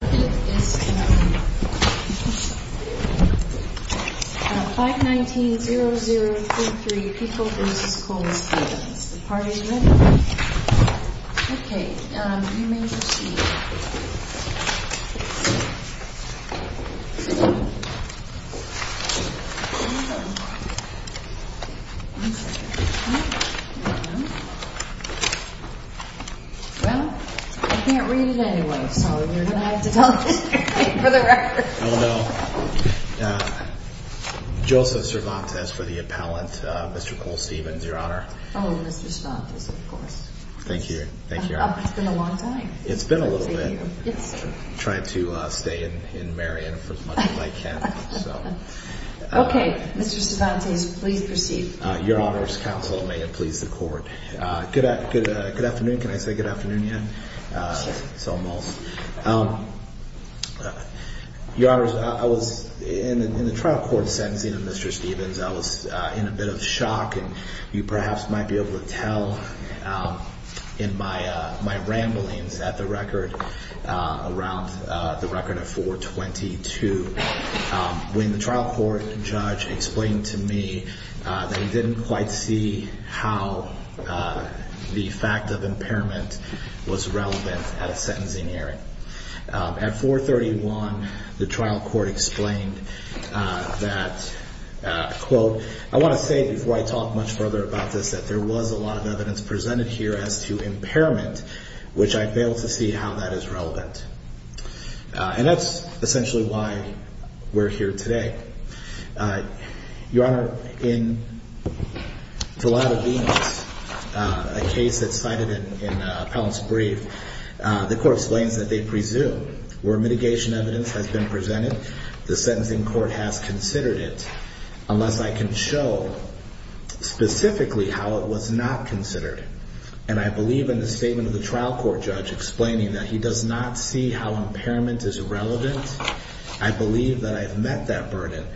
519-0033, Pico v. Coles-Stevens, the Party of Red Okay, you may proceed. Well, I can't read it anyway, so you're going to have to tell the story for the record. Oh, no. Joseph Cervantes for the appellant, Mr. Coles-Stevens, Your Honor. Oh, Mr. Cervantes, of course. Thank you. Thank you, Your Honor. It's been a long time. It's been a little bit. I'm trying to stay in Marion for as much as I can. Okay, Mr. Cervantes, please proceed. Your Honor's counsel may it please the Court. Good afternoon. Can I say good afternoon yet? Yes. It's almost. Your Honor, I was in the trial court sentencing of Mr. Stevens. I was in a bit of shock, and you perhaps might be able to tell in my ramblings at the record around the record of 422, when the trial court judge explained to me that he didn't quite see how the fact of impairment was relevant at a sentencing hearing. At 431, the trial court explained that, quote, I want to say before I talk much further about this that there was a lot of evidence presented here as to impairment, which I failed to see how that is relevant. And that's essentially why we're here today. Your Honor, it's a lot of evidence, a case that's cited in Appellant's brief. The Court explains that they presume where mitigation evidence has been presented, the sentencing court has considered it, unless I can show specifically how it was not considered. And I believe in the statement of the trial court judge explaining that he does not see how impairment is relevant. I believe that I have met that burden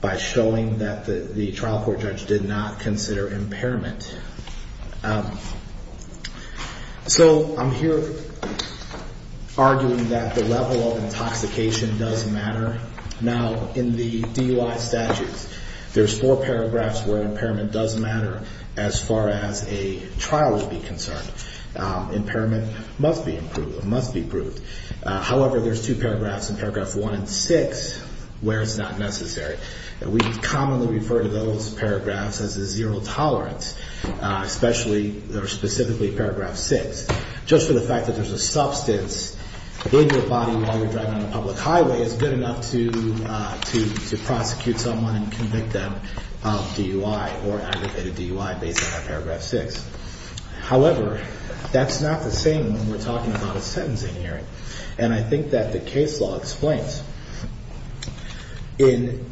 by showing that the trial court judge did not consider impairment. So I'm here arguing that the level of intoxication does matter. Now, in the DUI statutes, there's four paragraphs where impairment does matter as far as a trial would be concerned. Impairment must be improved. However, there's two paragraphs in Paragraph 1 and 6 where it's not necessary. And we commonly refer to those paragraphs as a zero tolerance, especially or specifically Paragraph 6. Just for the fact that there's a substance, I believe your body while you're driving on a public highway is good enough to prosecute someone and convict them of DUI or aggravated DUI based on Paragraph 6. However, that's not the same when we're talking about a sentencing hearing. And I think that the case law explains. In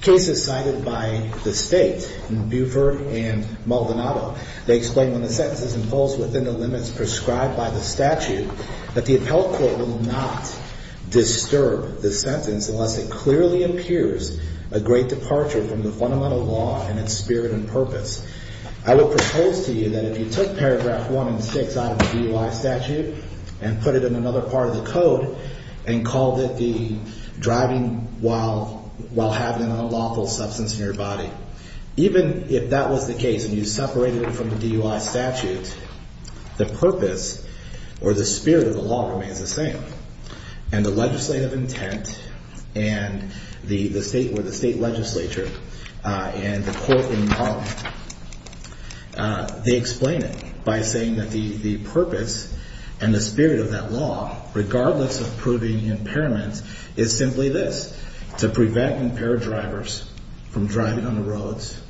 cases cited by the state in Beaufort and Maldonado, they explain when the sentence is imposed within the limits prescribed by the statute that the appellate court will not disturb the sentence unless it clearly impures a great departure from the fundamental law and its spirit and purpose. I would propose to you that if you took Paragraph 1 and 6 out of the DUI statute and put it in another part of the code and called it the driving while having an unlawful substance in your body, even if that was the case and you separated it from the DUI statute, the purpose or the spirit of the law remains the same. And the legislative intent and where the state legislature and the court are involved, they explain it by saying that the purpose and the spirit of that law, regardless of proving impairments, is simply this, to prevent impaired drivers from driving on the roads,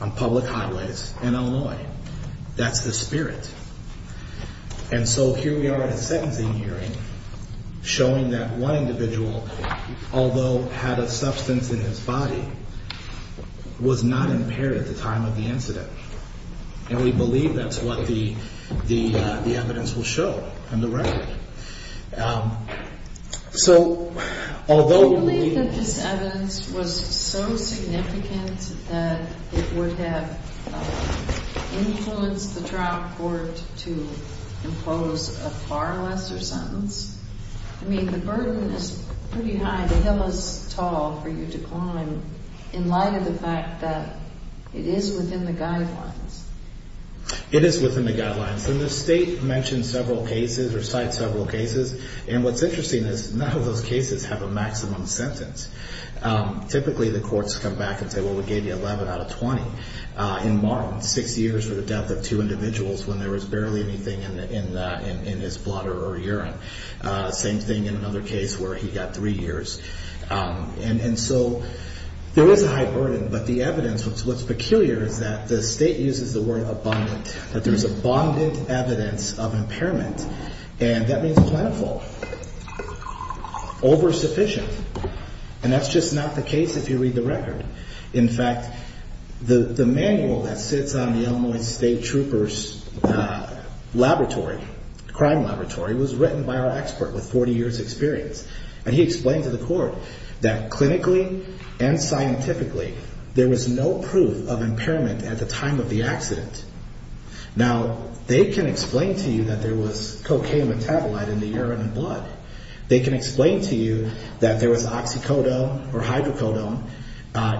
on public highways in Illinois. That's the spirit. And so here we are at a sentencing hearing showing that one individual, although had a substance in his body, was not impaired at the time of the incident. And we believe that's what the evidence will show on the record. I believe that this evidence was so significant that it would have influenced the trial court to impose a far lesser sentence. I mean, the burden is pretty high, the hill is tall for you to climb in light of the fact that it is within the guidelines. And the state mentions several cases or cites several cases. And what's interesting is none of those cases have a maximum sentence. Typically, the courts come back and say, well, we gave you 11 out of 20. In Martin, six years for the death of two individuals when there was barely anything in his bladder or urine. Same thing in another case where he got three years. And so there is a high burden. But the evidence, what's peculiar is that the state uses the word abundant, that there is abundant evidence of impairment. And that means plentiful. Oversufficient. And that's just not the case if you read the record. In fact, the manual that sits on the Illinois State Trooper's laboratory, crime laboratory, was written by our expert with 40 years' experience. And he explained to the court that clinically and scientifically there was no proof of impairment at the time of the accident. Now, they can explain to you that there was cocaine metabolite in the urine and blood. They can explain to you that there was oxycodone or hydrocodone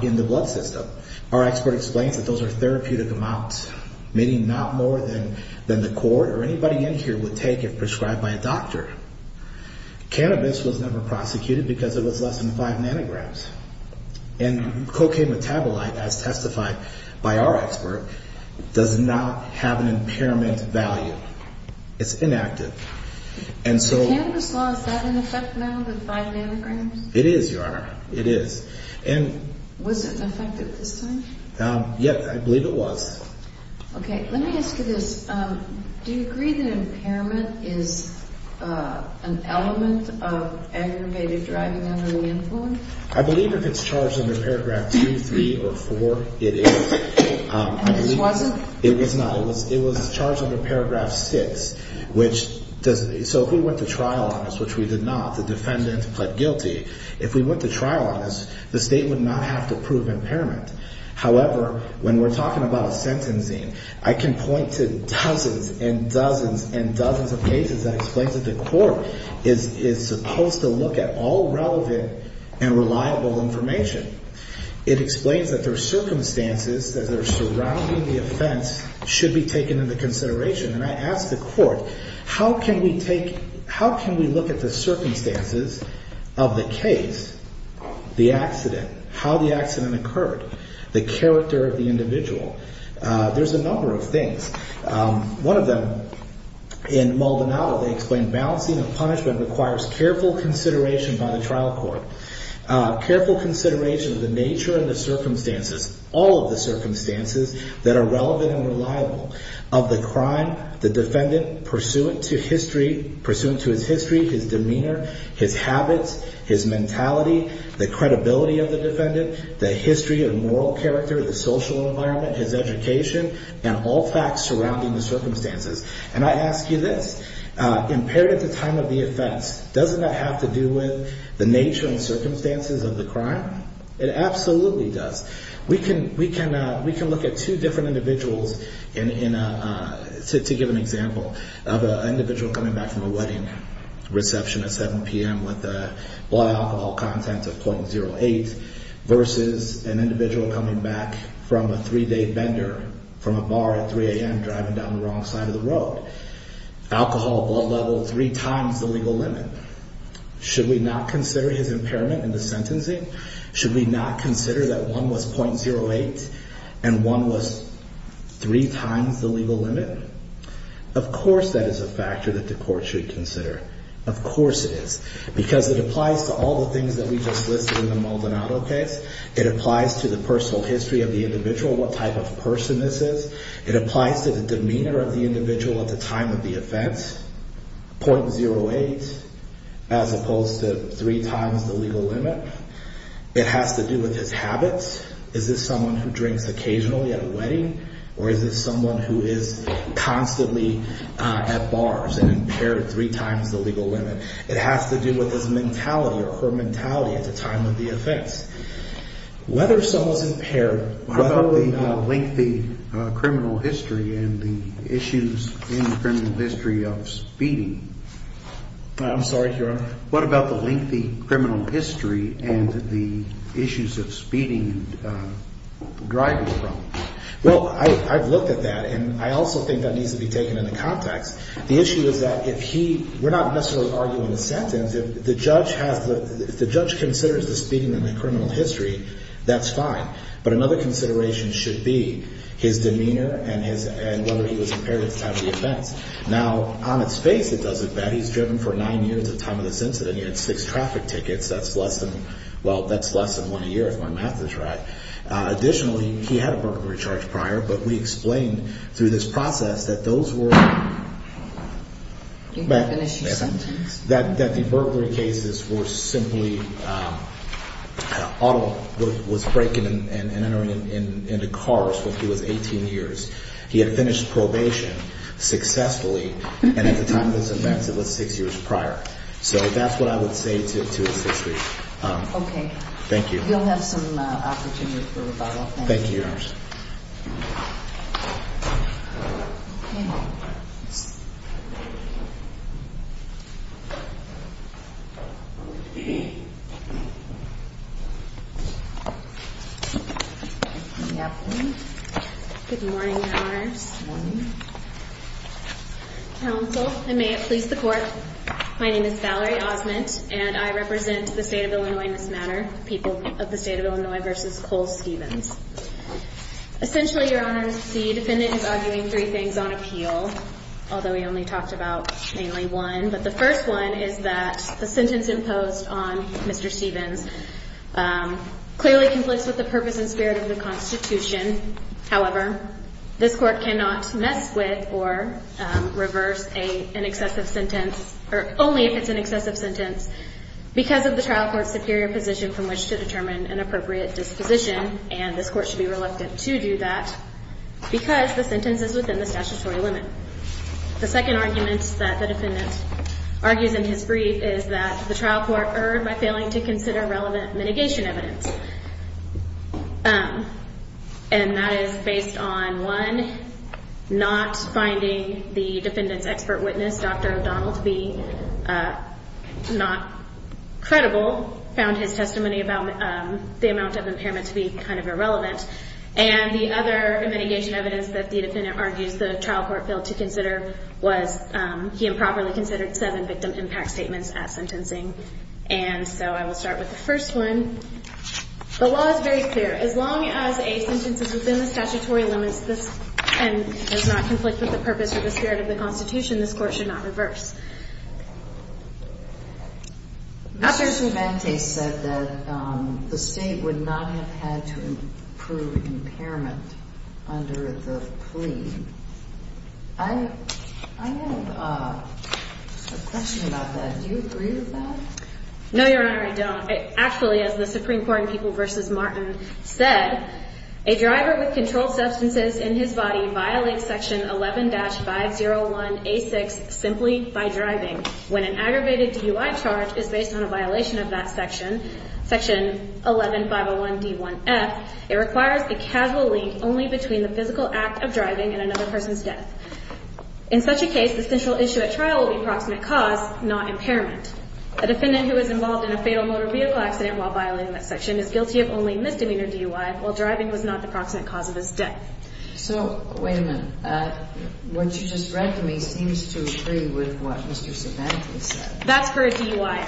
in the blood system. Our expert explains that those are therapeutic amounts, meaning not more than the court or anybody in here would take if prescribed by a doctor. Cannabis was never prosecuted because it was less than 5 nanograms. And cocaine metabolite, as testified by our expert, does not have an impairment value. It's inactive. And so... Cannabis law, is that an effect now, the 5 nanograms? It is, Your Honor. It is. And... Was it effective this time? Yes, I believe it was. Okay. Let me ask you this. Do you agree that impairment is an element of aggravated driving under the influence? I believe if it's charged under paragraph 2, 3, or 4, it is. And this wasn't? It was not. It was charged under paragraph 6, which does... So if we went to trial on this, which we did not, the defendant pled guilty, if we went to trial on this, the state would not have to prove impairment. However, when we're talking about sentencing, I can point to dozens and dozens and dozens of cases that explain that the court is supposed to look at all relevant and reliable information. It explains that there are circumstances that are surrounding the offense should be taken into consideration. And I ask the court, how can we take... How can we look at the circumstances of the case, the accident, how the accident occurred, the character of the individual? There's a number of things. One of them, in Maldonado, they explain balancing a punishment requires careful consideration by the trial court, careful consideration of the nature and the circumstances, all of the circumstances that are relevant and reliable of the crime, the defendant pursuant to history, pursuant to his history, his demeanor, his habits, his mentality, the credibility of the defendant, the history of moral character, the social environment, his education, and all facts surrounding the circumstances. And I ask you this, impaired at the time of the offense, doesn't that have to do with the nature and circumstances of the crime? It absolutely does. We can look at two different individuals to give an example of an individual coming back from a wedding reception at 7 p.m. with a blood alcohol content of .08 versus an individual coming back from a three-day bender from a bar at 3 a.m. driving down the wrong side of the road. Alcohol, blood level three times the legal limit. Should we not consider his impairment in the sentencing? Should we not consider that one was .08 and one was three times the legal limit? Of course that is a factor that the court should consider. Of course it is because it applies to all the things that we just listed in the Maldonado case. It applies to the personal history of the individual, what type of person this is. It applies to the demeanor of the individual at the time of the offense, .08, as opposed to three times the legal limit. It has to do with his habits. Is this someone who drinks occasionally at a wedding, or is this someone who is constantly at bars and impaired three times the legal limit? It has to do with his mentality or her mentality at the time of the offense. Whether someone is impaired, whether or not... What about the lengthy criminal history and the issues in criminal history of speeding? I'm sorry, Your Honor. What about the lengthy criminal history and the issues of speeding and driving problems? Well, I've looked at that, and I also think that needs to be taken into context. The issue is that if he... we're not necessarily arguing the sentence. If the judge considers the speeding in the criminal history, that's fine. But another consideration should be his demeanor and whether he was impaired at the time of the offense. Now, on its face, it doesn't matter. He's driven for nine years at the time of this incident. He had six traffic tickets. That's less than... well, that's less than one year, if my math is right. Additionally, he had a burglary charge prior, but we explained through this process that those were... You didn't finish your sentence? That the burglary cases were simply... Auto was breaking and entering into cars when he was 18 years. He had finished probation successfully, and at the time of this event, it was six years prior. So that's what I would say to his history. Okay. Thank you. You'll have some opportunity for rebuttal. Thank you. Thank you, Your Honor. Okay. Good morning, Your Honors. Good morning. Counsel, and may it please the Court, my name is Valerie Osment, and I represent the State of Illinois in this matter, people of the State of Illinois v. Cole-Stevens. Essentially, Your Honors, the defendant is arguing three things on appeal, although he only talked about mainly one. But the first one is that the sentence imposed on Mr. Stevens clearly conflicts with the purpose and spirit of the Constitution. However, this Court cannot mess with or reverse an excessive sentence, or only if it's an excessive sentence, because of the trial court's superior position from which to determine an appropriate disposition, and this Court should be reluctant to do that because the sentence is within the statutory limit. The second argument that the defendant argues in his brief is that the trial court erred by failing to consider relevant mitigation evidence. And that is based on, one, not finding the defendant's expert witness, Dr. O'Donnell, to be not credible, found his testimony about the amount of impairment to be kind of irrelevant. And the other mitigation evidence that the defendant argues the trial court failed to consider was he improperly considered seven victim impact statements at sentencing. And so I will start with the first one. The law is very clear. As long as a sentence is within the statutory limits and does not conflict with the purpose or the spirit of the Constitution, this Court should not reverse. Mr. Cervantes said that the State would not have had to approve impairment under the plea. I have a question about that. Do you agree with that? No, Your Honor, I don't. Actually, as the Supreme Court in People v. Martin said, a driver with controlled substances in his body violates section 11-501A6 simply by driving. When an aggravated DUI charge is based on a violation of that section, section 11-501D1F, it requires a casual link only between the physical act of driving and another person's death. In such a case, the central issue at trial will be proximate cause, not impairment. A defendant who is involved in a fatal motor vehicle accident while violating that section is guilty of only misdemeanor DUI while driving was not the proximate cause of his death. So, wait a minute. What you just read to me seems to agree with what Mr. Cervantes said. That's for a DUI.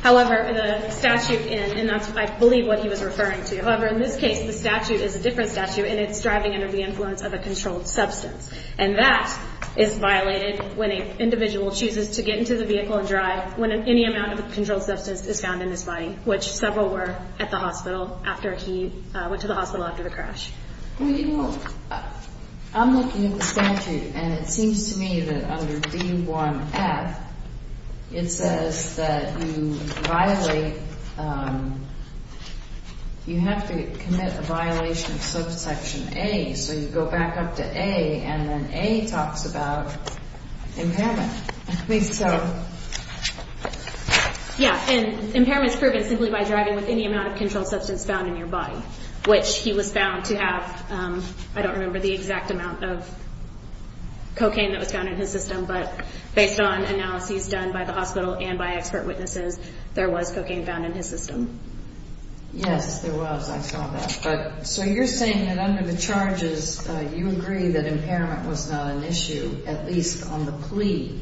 However, the statute, and that's, I believe, what he was referring to. However, in this case, the statute is a different statute, and it's driving under the influence of a controlled substance. And that is violated when an individual chooses to get into the vehicle and drive when any amount of a controlled substance is found in his body, which several were at the hospital after he went to the hospital after the crash. Well, you know, I'm looking at the statute, and it seems to me that under D1F, it says that you violate, you have to commit a violation of subsection A. So you go back up to A, and then A talks about impairment. I think so. Yeah, and impairment is proven simply by driving with any amount of controlled substance found in your body, which he was found to have, I don't remember the exact amount of cocaine that was found in his system, but based on analyses done by the hospital and by expert witnesses, there was cocaine found in his system. Yes, there was. I saw that. So you're saying that under the charges, you agree that impairment was not an issue, at least on the plea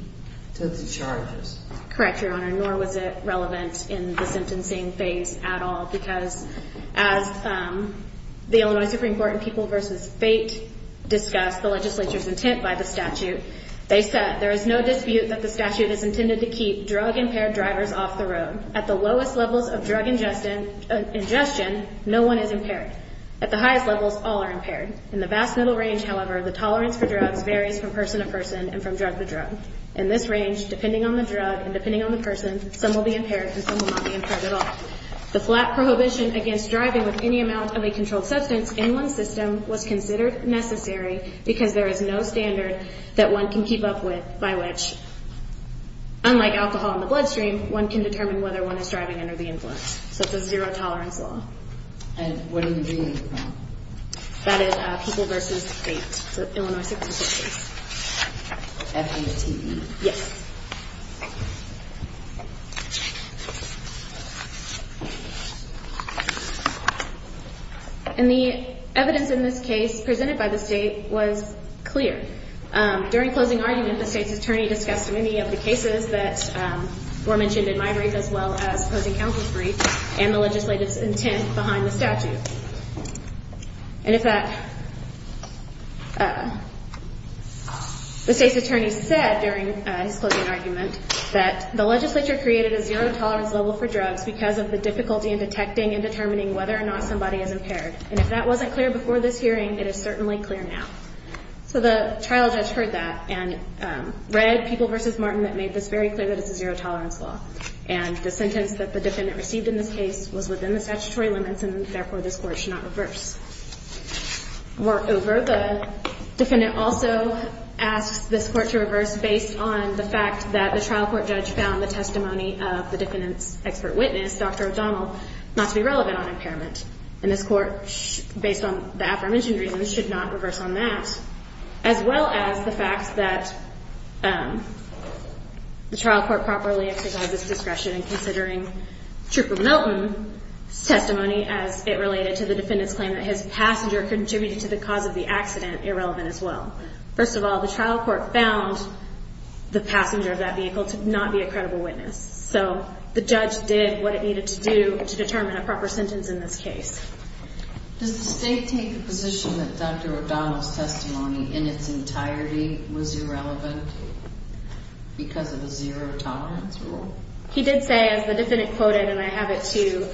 to the charges. Correct, Your Honor, nor was it relevant in the sentencing phase at all, because as the Illinois Supreme Court in People v. Fate discussed the legislature's intent by the statute, they said there is no dispute that the statute is intended to keep drug-impaired drivers off the road. At the lowest levels of drug ingestion, no one is impaired. At the highest levels, all are impaired. In the vast middle range, however, the tolerance for drugs varies from person to person and from drug to drug. In this range, depending on the drug and depending on the person, some will be impaired and some will not be impaired at all. The flat prohibition against driving with any amount of a controlled substance in one's system was considered necessary because there is no standard that one can keep up with by which, unlike alcohol in the bloodstream, one can determine whether one is driving under the influence. So it's a zero-tolerance law. And what do you mean by that? That is People v. Fate, the Illinois Supreme Court case. F-A-T-E? Yes. And the evidence in this case presented by the State was clear. During closing argument, the State's attorney discussed many of the cases that were mentioned in my brief as well as closing counsel's brief and the legislative intent behind the statute. And in fact, the State's attorney said during his closing argument that the legislature created a zero-tolerance level for drugs because of the difficulty in detecting and determining whether or not somebody is impaired. And if that wasn't clear before this hearing, it is certainly clear now. So the trial judge heard that and read People v. Martin that made this very clear that it's a zero-tolerance law. And the sentence that the defendant received in this case was within the statutory limits, and therefore this Court should not reverse. Moreover, the defendant also asks this Court to reverse based on the fact that the trial court judge found the testimony of the defendant's expert witness, Dr. O'Donnell, not to be relevant on impairment. And this Court, based on the aforementioned reasons, should not reverse on that, as well as the fact that the trial court properly exercised its discretion in considering Trooper Milton's testimony as it related to the defendant's claim that his passenger contributed to the cause of the accident irrelevant as well. First of all, the trial court found the passenger of that vehicle to not be a credible witness. So the judge did what it needed to do to determine a proper sentence in this case. Does the State take the position that Dr. O'Donnell's testimony in its entirety was irrelevant because of the zero-tolerance rule? He did say, as the defendant quoted, and I have it too,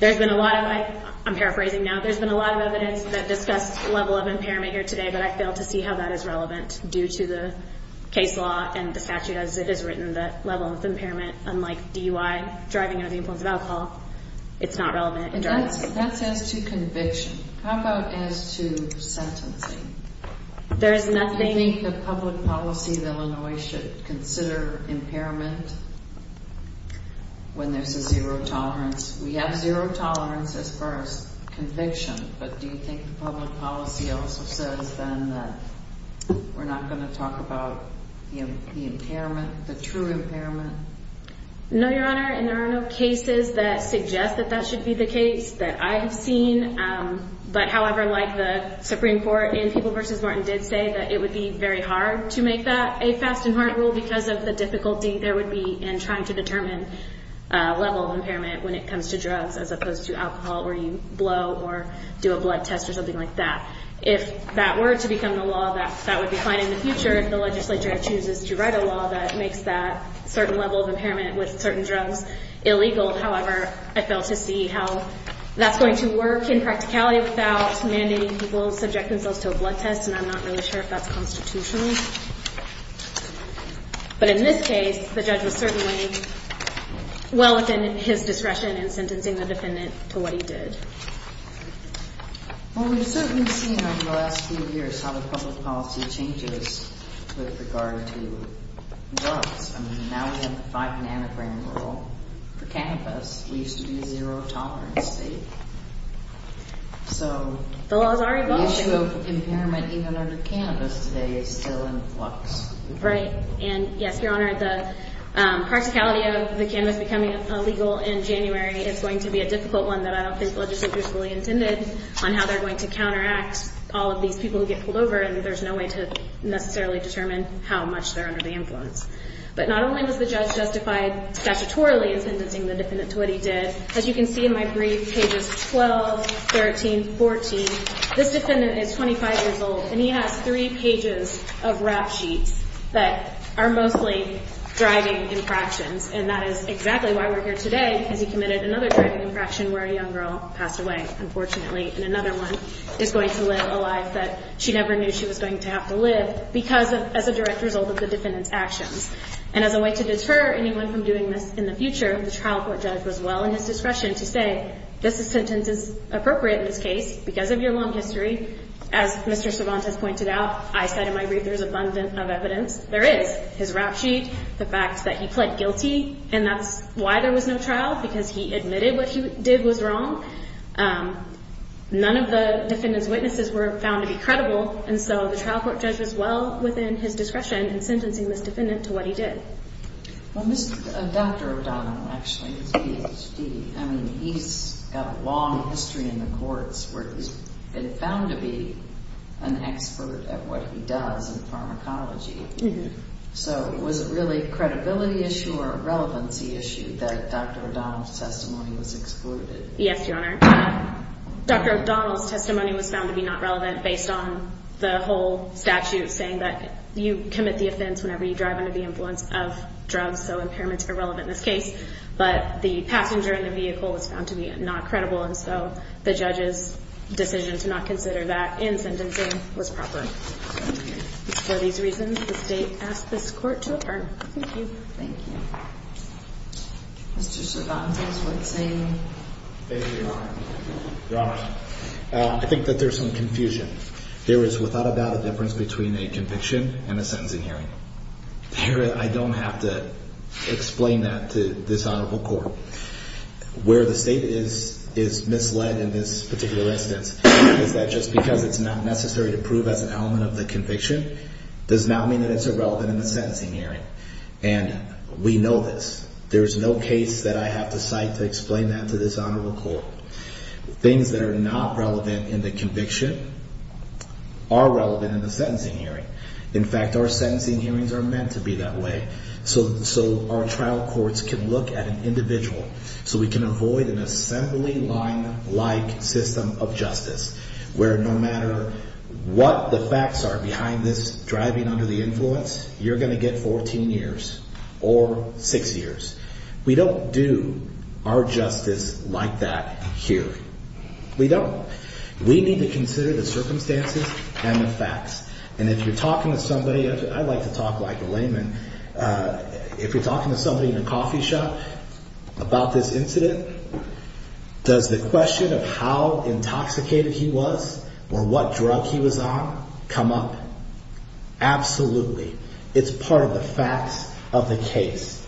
there's been a lot of, I'm paraphrasing now, there's been a lot of evidence that discussed the level of impairment here today, but I fail to see how that is relevant due to the case law and the statute as it is written, that level of impairment, unlike DUI, driving under the influence of alcohol, it's not relevant. And that's as to conviction. How about as to sentencing? There is nothing... Do you think the public policy of Illinois should consider impairment when there's a zero-tolerance? We have zero-tolerance as far as conviction, but do you think the public policy also says then that we're not going to talk about the impairment, the true impairment? No, Your Honor, and there are no cases that suggest that that should be the case that I have seen. But however, like the Supreme Court in People v. Martin did say that it would be very hard to make that a fast-and-hard rule because of the difficulty there would be in trying to determine level of impairment when it comes to drugs as opposed to alcohol where you blow or do a blood test or something like that. If that were to become the law, that would be fine in the future if the legislature chooses to write a law that makes that certain level of impairment with certain drugs illegal. However, I fail to see how that's going to work in practicality without mandating people subject themselves to a blood test, and I'm not really sure if that's constitutional. But in this case, the judge was certainly well within his discretion in sentencing the defendant to what he did. Well, we've certainly seen over the last few years how the public policy changes with regard to drugs. I mean, now we have the 5 nanogram rule for cannabis. We used to be a zero-tolerance state. So the issue of impairment even under cannabis today is still in flux. Right. And yes, Your Honor, the practicality of the cannabis becoming illegal in January is going to be a difficult one that I don't think the legislature fully intended on how they're going to counteract all of these people who get pulled over, and there's no way to necessarily determine how much they're under the influence. But not only was the judge justified statutorily in sentencing the defendant to what he did, as you can see in my brief, pages 12, 13, 14, this defendant is 25 years old, and he has three pages of rap sheets that are mostly driving infractions, and that is exactly why we're here today, because he committed another driving infraction where a young girl passed away, unfortunately, and another one is going to live a life that she never knew she was going to have to live because as a direct result of the defendant's actions. And as a way to deter anyone from doing this in the future, the trial court judge was well in his discretion to say this sentence is appropriate in this case because of your long history. As Mr. Cervantes pointed out, I said in my brief there's abundant of evidence. There is. His rap sheet, the fact that he pled guilty, and that's why there was no trial, because he admitted what he did was wrong. None of the defendant's witnesses were found to be credible, and so the trial court judge was well within his discretion in sentencing this defendant to what he did. Well, Dr. O'Donnell, actually, is a PhD. I mean, he's got a long history in the courts where he's been found to be an expert at what he does in pharmacology. So was it really a credibility issue or a relevancy issue that Dr. O'Donnell's testimony was excluded? Yes, Your Honor. Dr. O'Donnell's testimony was found to be not relevant based on the whole statute saying that you commit the offense whenever you drive under the influence of drugs, so impairment's irrelevant in this case. But the passenger in the vehicle was found to be not credible, and so the judge's decision to not consider that in sentencing was proper. Thank you. For these reasons, the state asked this court to adjourn. Thank you. Thank you. Mr. Cervantes, what say you? Thank you, Your Honor. Your Honor, I think that there's some confusion. There is without a doubt a difference between a conviction and a sentencing hearing. I don't have to explain that to this honorable court. Where the state is misled in this particular instance is that just because it's not necessary to prove as an element of the conviction does not mean that it's irrelevant in the sentencing hearing. And we know this. There's no case that I have to cite to explain that to this honorable court. Things that are not relevant in the conviction are relevant in the sentencing hearing. In fact, our sentencing hearings are meant to be that way so our trial courts can look at an individual so we can avoid an assembly line-like system of justice where no matter what the facts are behind this driving under the influence, you're going to get 14 years or six years. We don't do our justice like that here. We don't. We need to consider the circumstances and the facts. And if you're talking to somebody, I like to talk like a layman, if you're talking to somebody in a coffee shop about this incident, does the question of how intoxicated he was or what drug he was on come up? Absolutely. It's part of the facts of the case.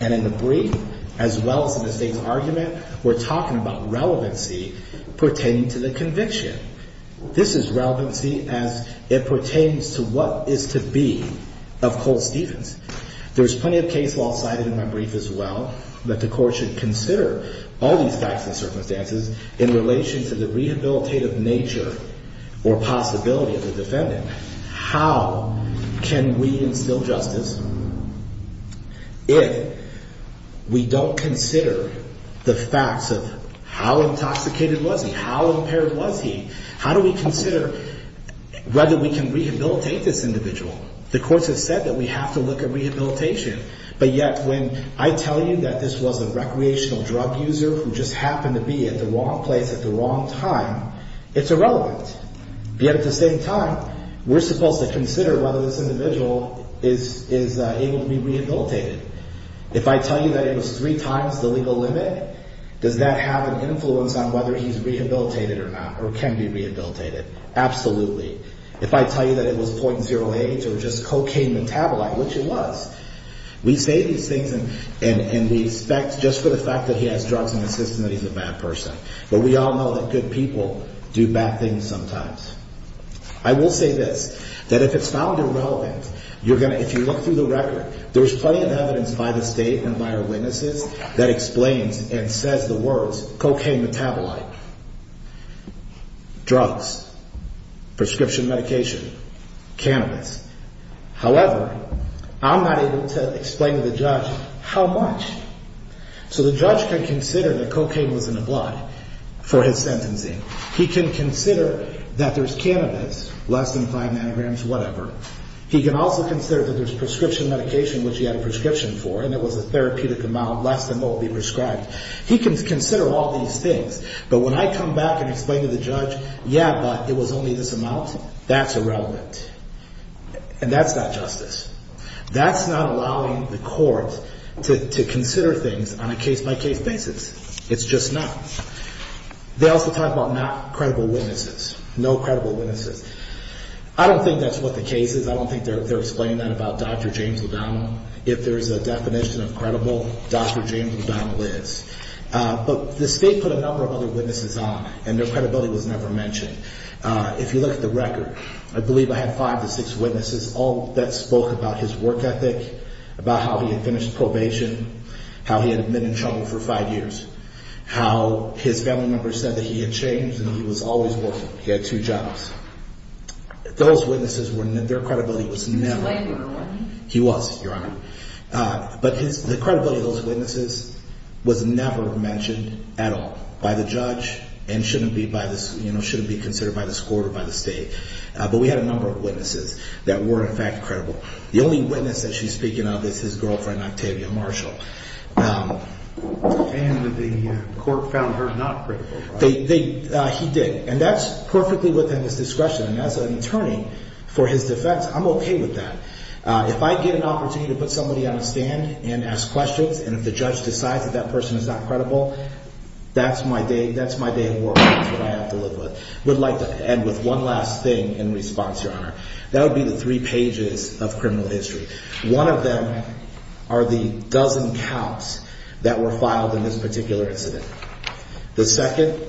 And in the brief, as well as in the state's argument, we're talking about relevancy pertaining to the conviction. This is relevancy as it pertains to what is to be of Cole Stevens. There's plenty of case law cited in my brief as well that the court should consider all these facts and circumstances in relation to the rehabilitative nature or possibility of the defendant. How can we instill justice if we don't consider the facts of how intoxicated was he? How impaired was he? How do we consider whether we can rehabilitate this individual? The courts have said that we have to look at rehabilitation. But yet when I tell you that this was a recreational drug user who just happened to be at the wrong place at the wrong time, it's irrelevant. Yet at the same time, we're supposed to consider whether this individual is able to be rehabilitated. If I tell you that it was three times the legal limit, does that have an influence on whether he's rehabilitated or not or can be rehabilitated? Absolutely. If I tell you that it was .08 or just cocaine metabolite, which it was, we say these things and we expect just for the fact that he has drugs in his system that he's a bad person. But we all know that good people do bad things sometimes. I will say this, that if it's found irrelevant, if you look through the record, there's plenty of evidence by the state and by our witnesses that explains and says the words cocaine metabolite, drugs, prescription medication, cannabis. However, I'm not able to explain to the judge how much. So the judge can consider that cocaine was in the blood for his sentencing. He can consider that there's cannabis, less than five nanograms, whatever. He can also consider that there's prescription medication, which he had a prescription for, and it was a therapeutic amount less than what would be prescribed. He can consider all these things, but when I come back and explain to the judge, yeah, but it was only this amount, that's irrelevant, and that's not justice. That's not allowing the court to consider things on a case-by-case basis. It's just not. They also talk about not credible witnesses, no credible witnesses. I don't think that's what the case is. I don't think they're explaining that about Dr. James O'Donnell. If there's a definition of credible, Dr. James O'Donnell is. But the state put a number of other witnesses on, and their credibility was never mentioned. If you look at the record, I believe I had five to six witnesses, all that spoke about his work ethic, about how he had finished probation, how he had been in trouble for five years, how his family members said that he had changed and he was always working. He had two jobs. Those witnesses, their credibility was never mentioned. He was, Your Honor. But the credibility of those witnesses was never mentioned at all by the judge and shouldn't be considered by this court or by the state. But we had a number of witnesses that were, in fact, credible. The only witness that she's speaking of is his girlfriend, Octavia Marshall. And the court found her not credible. He did, and that's perfectly within his discretion. And as an attorney, for his defense, I'm okay with that. If I get an opportunity to put somebody on a stand and ask questions, and if the judge decides that that person is not credible, that's my day at work. That's what I have to live with. I would like to end with one last thing in response, Your Honor. That would be the three pages of criminal history. One of them are the dozen counts that were filed in this particular incident. The second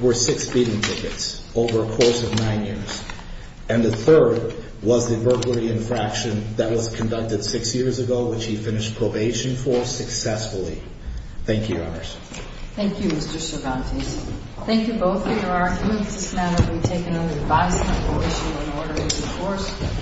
were six beating tickets over a course of nine years. And the third was the burglary infraction that was conducted six years ago, which he finished probation for successfully. Thank you, Your Honors. Thank you, Mr. Cervantes. Thank you both for your arguments. This matter will be taken under advice and approbation when order is enforced.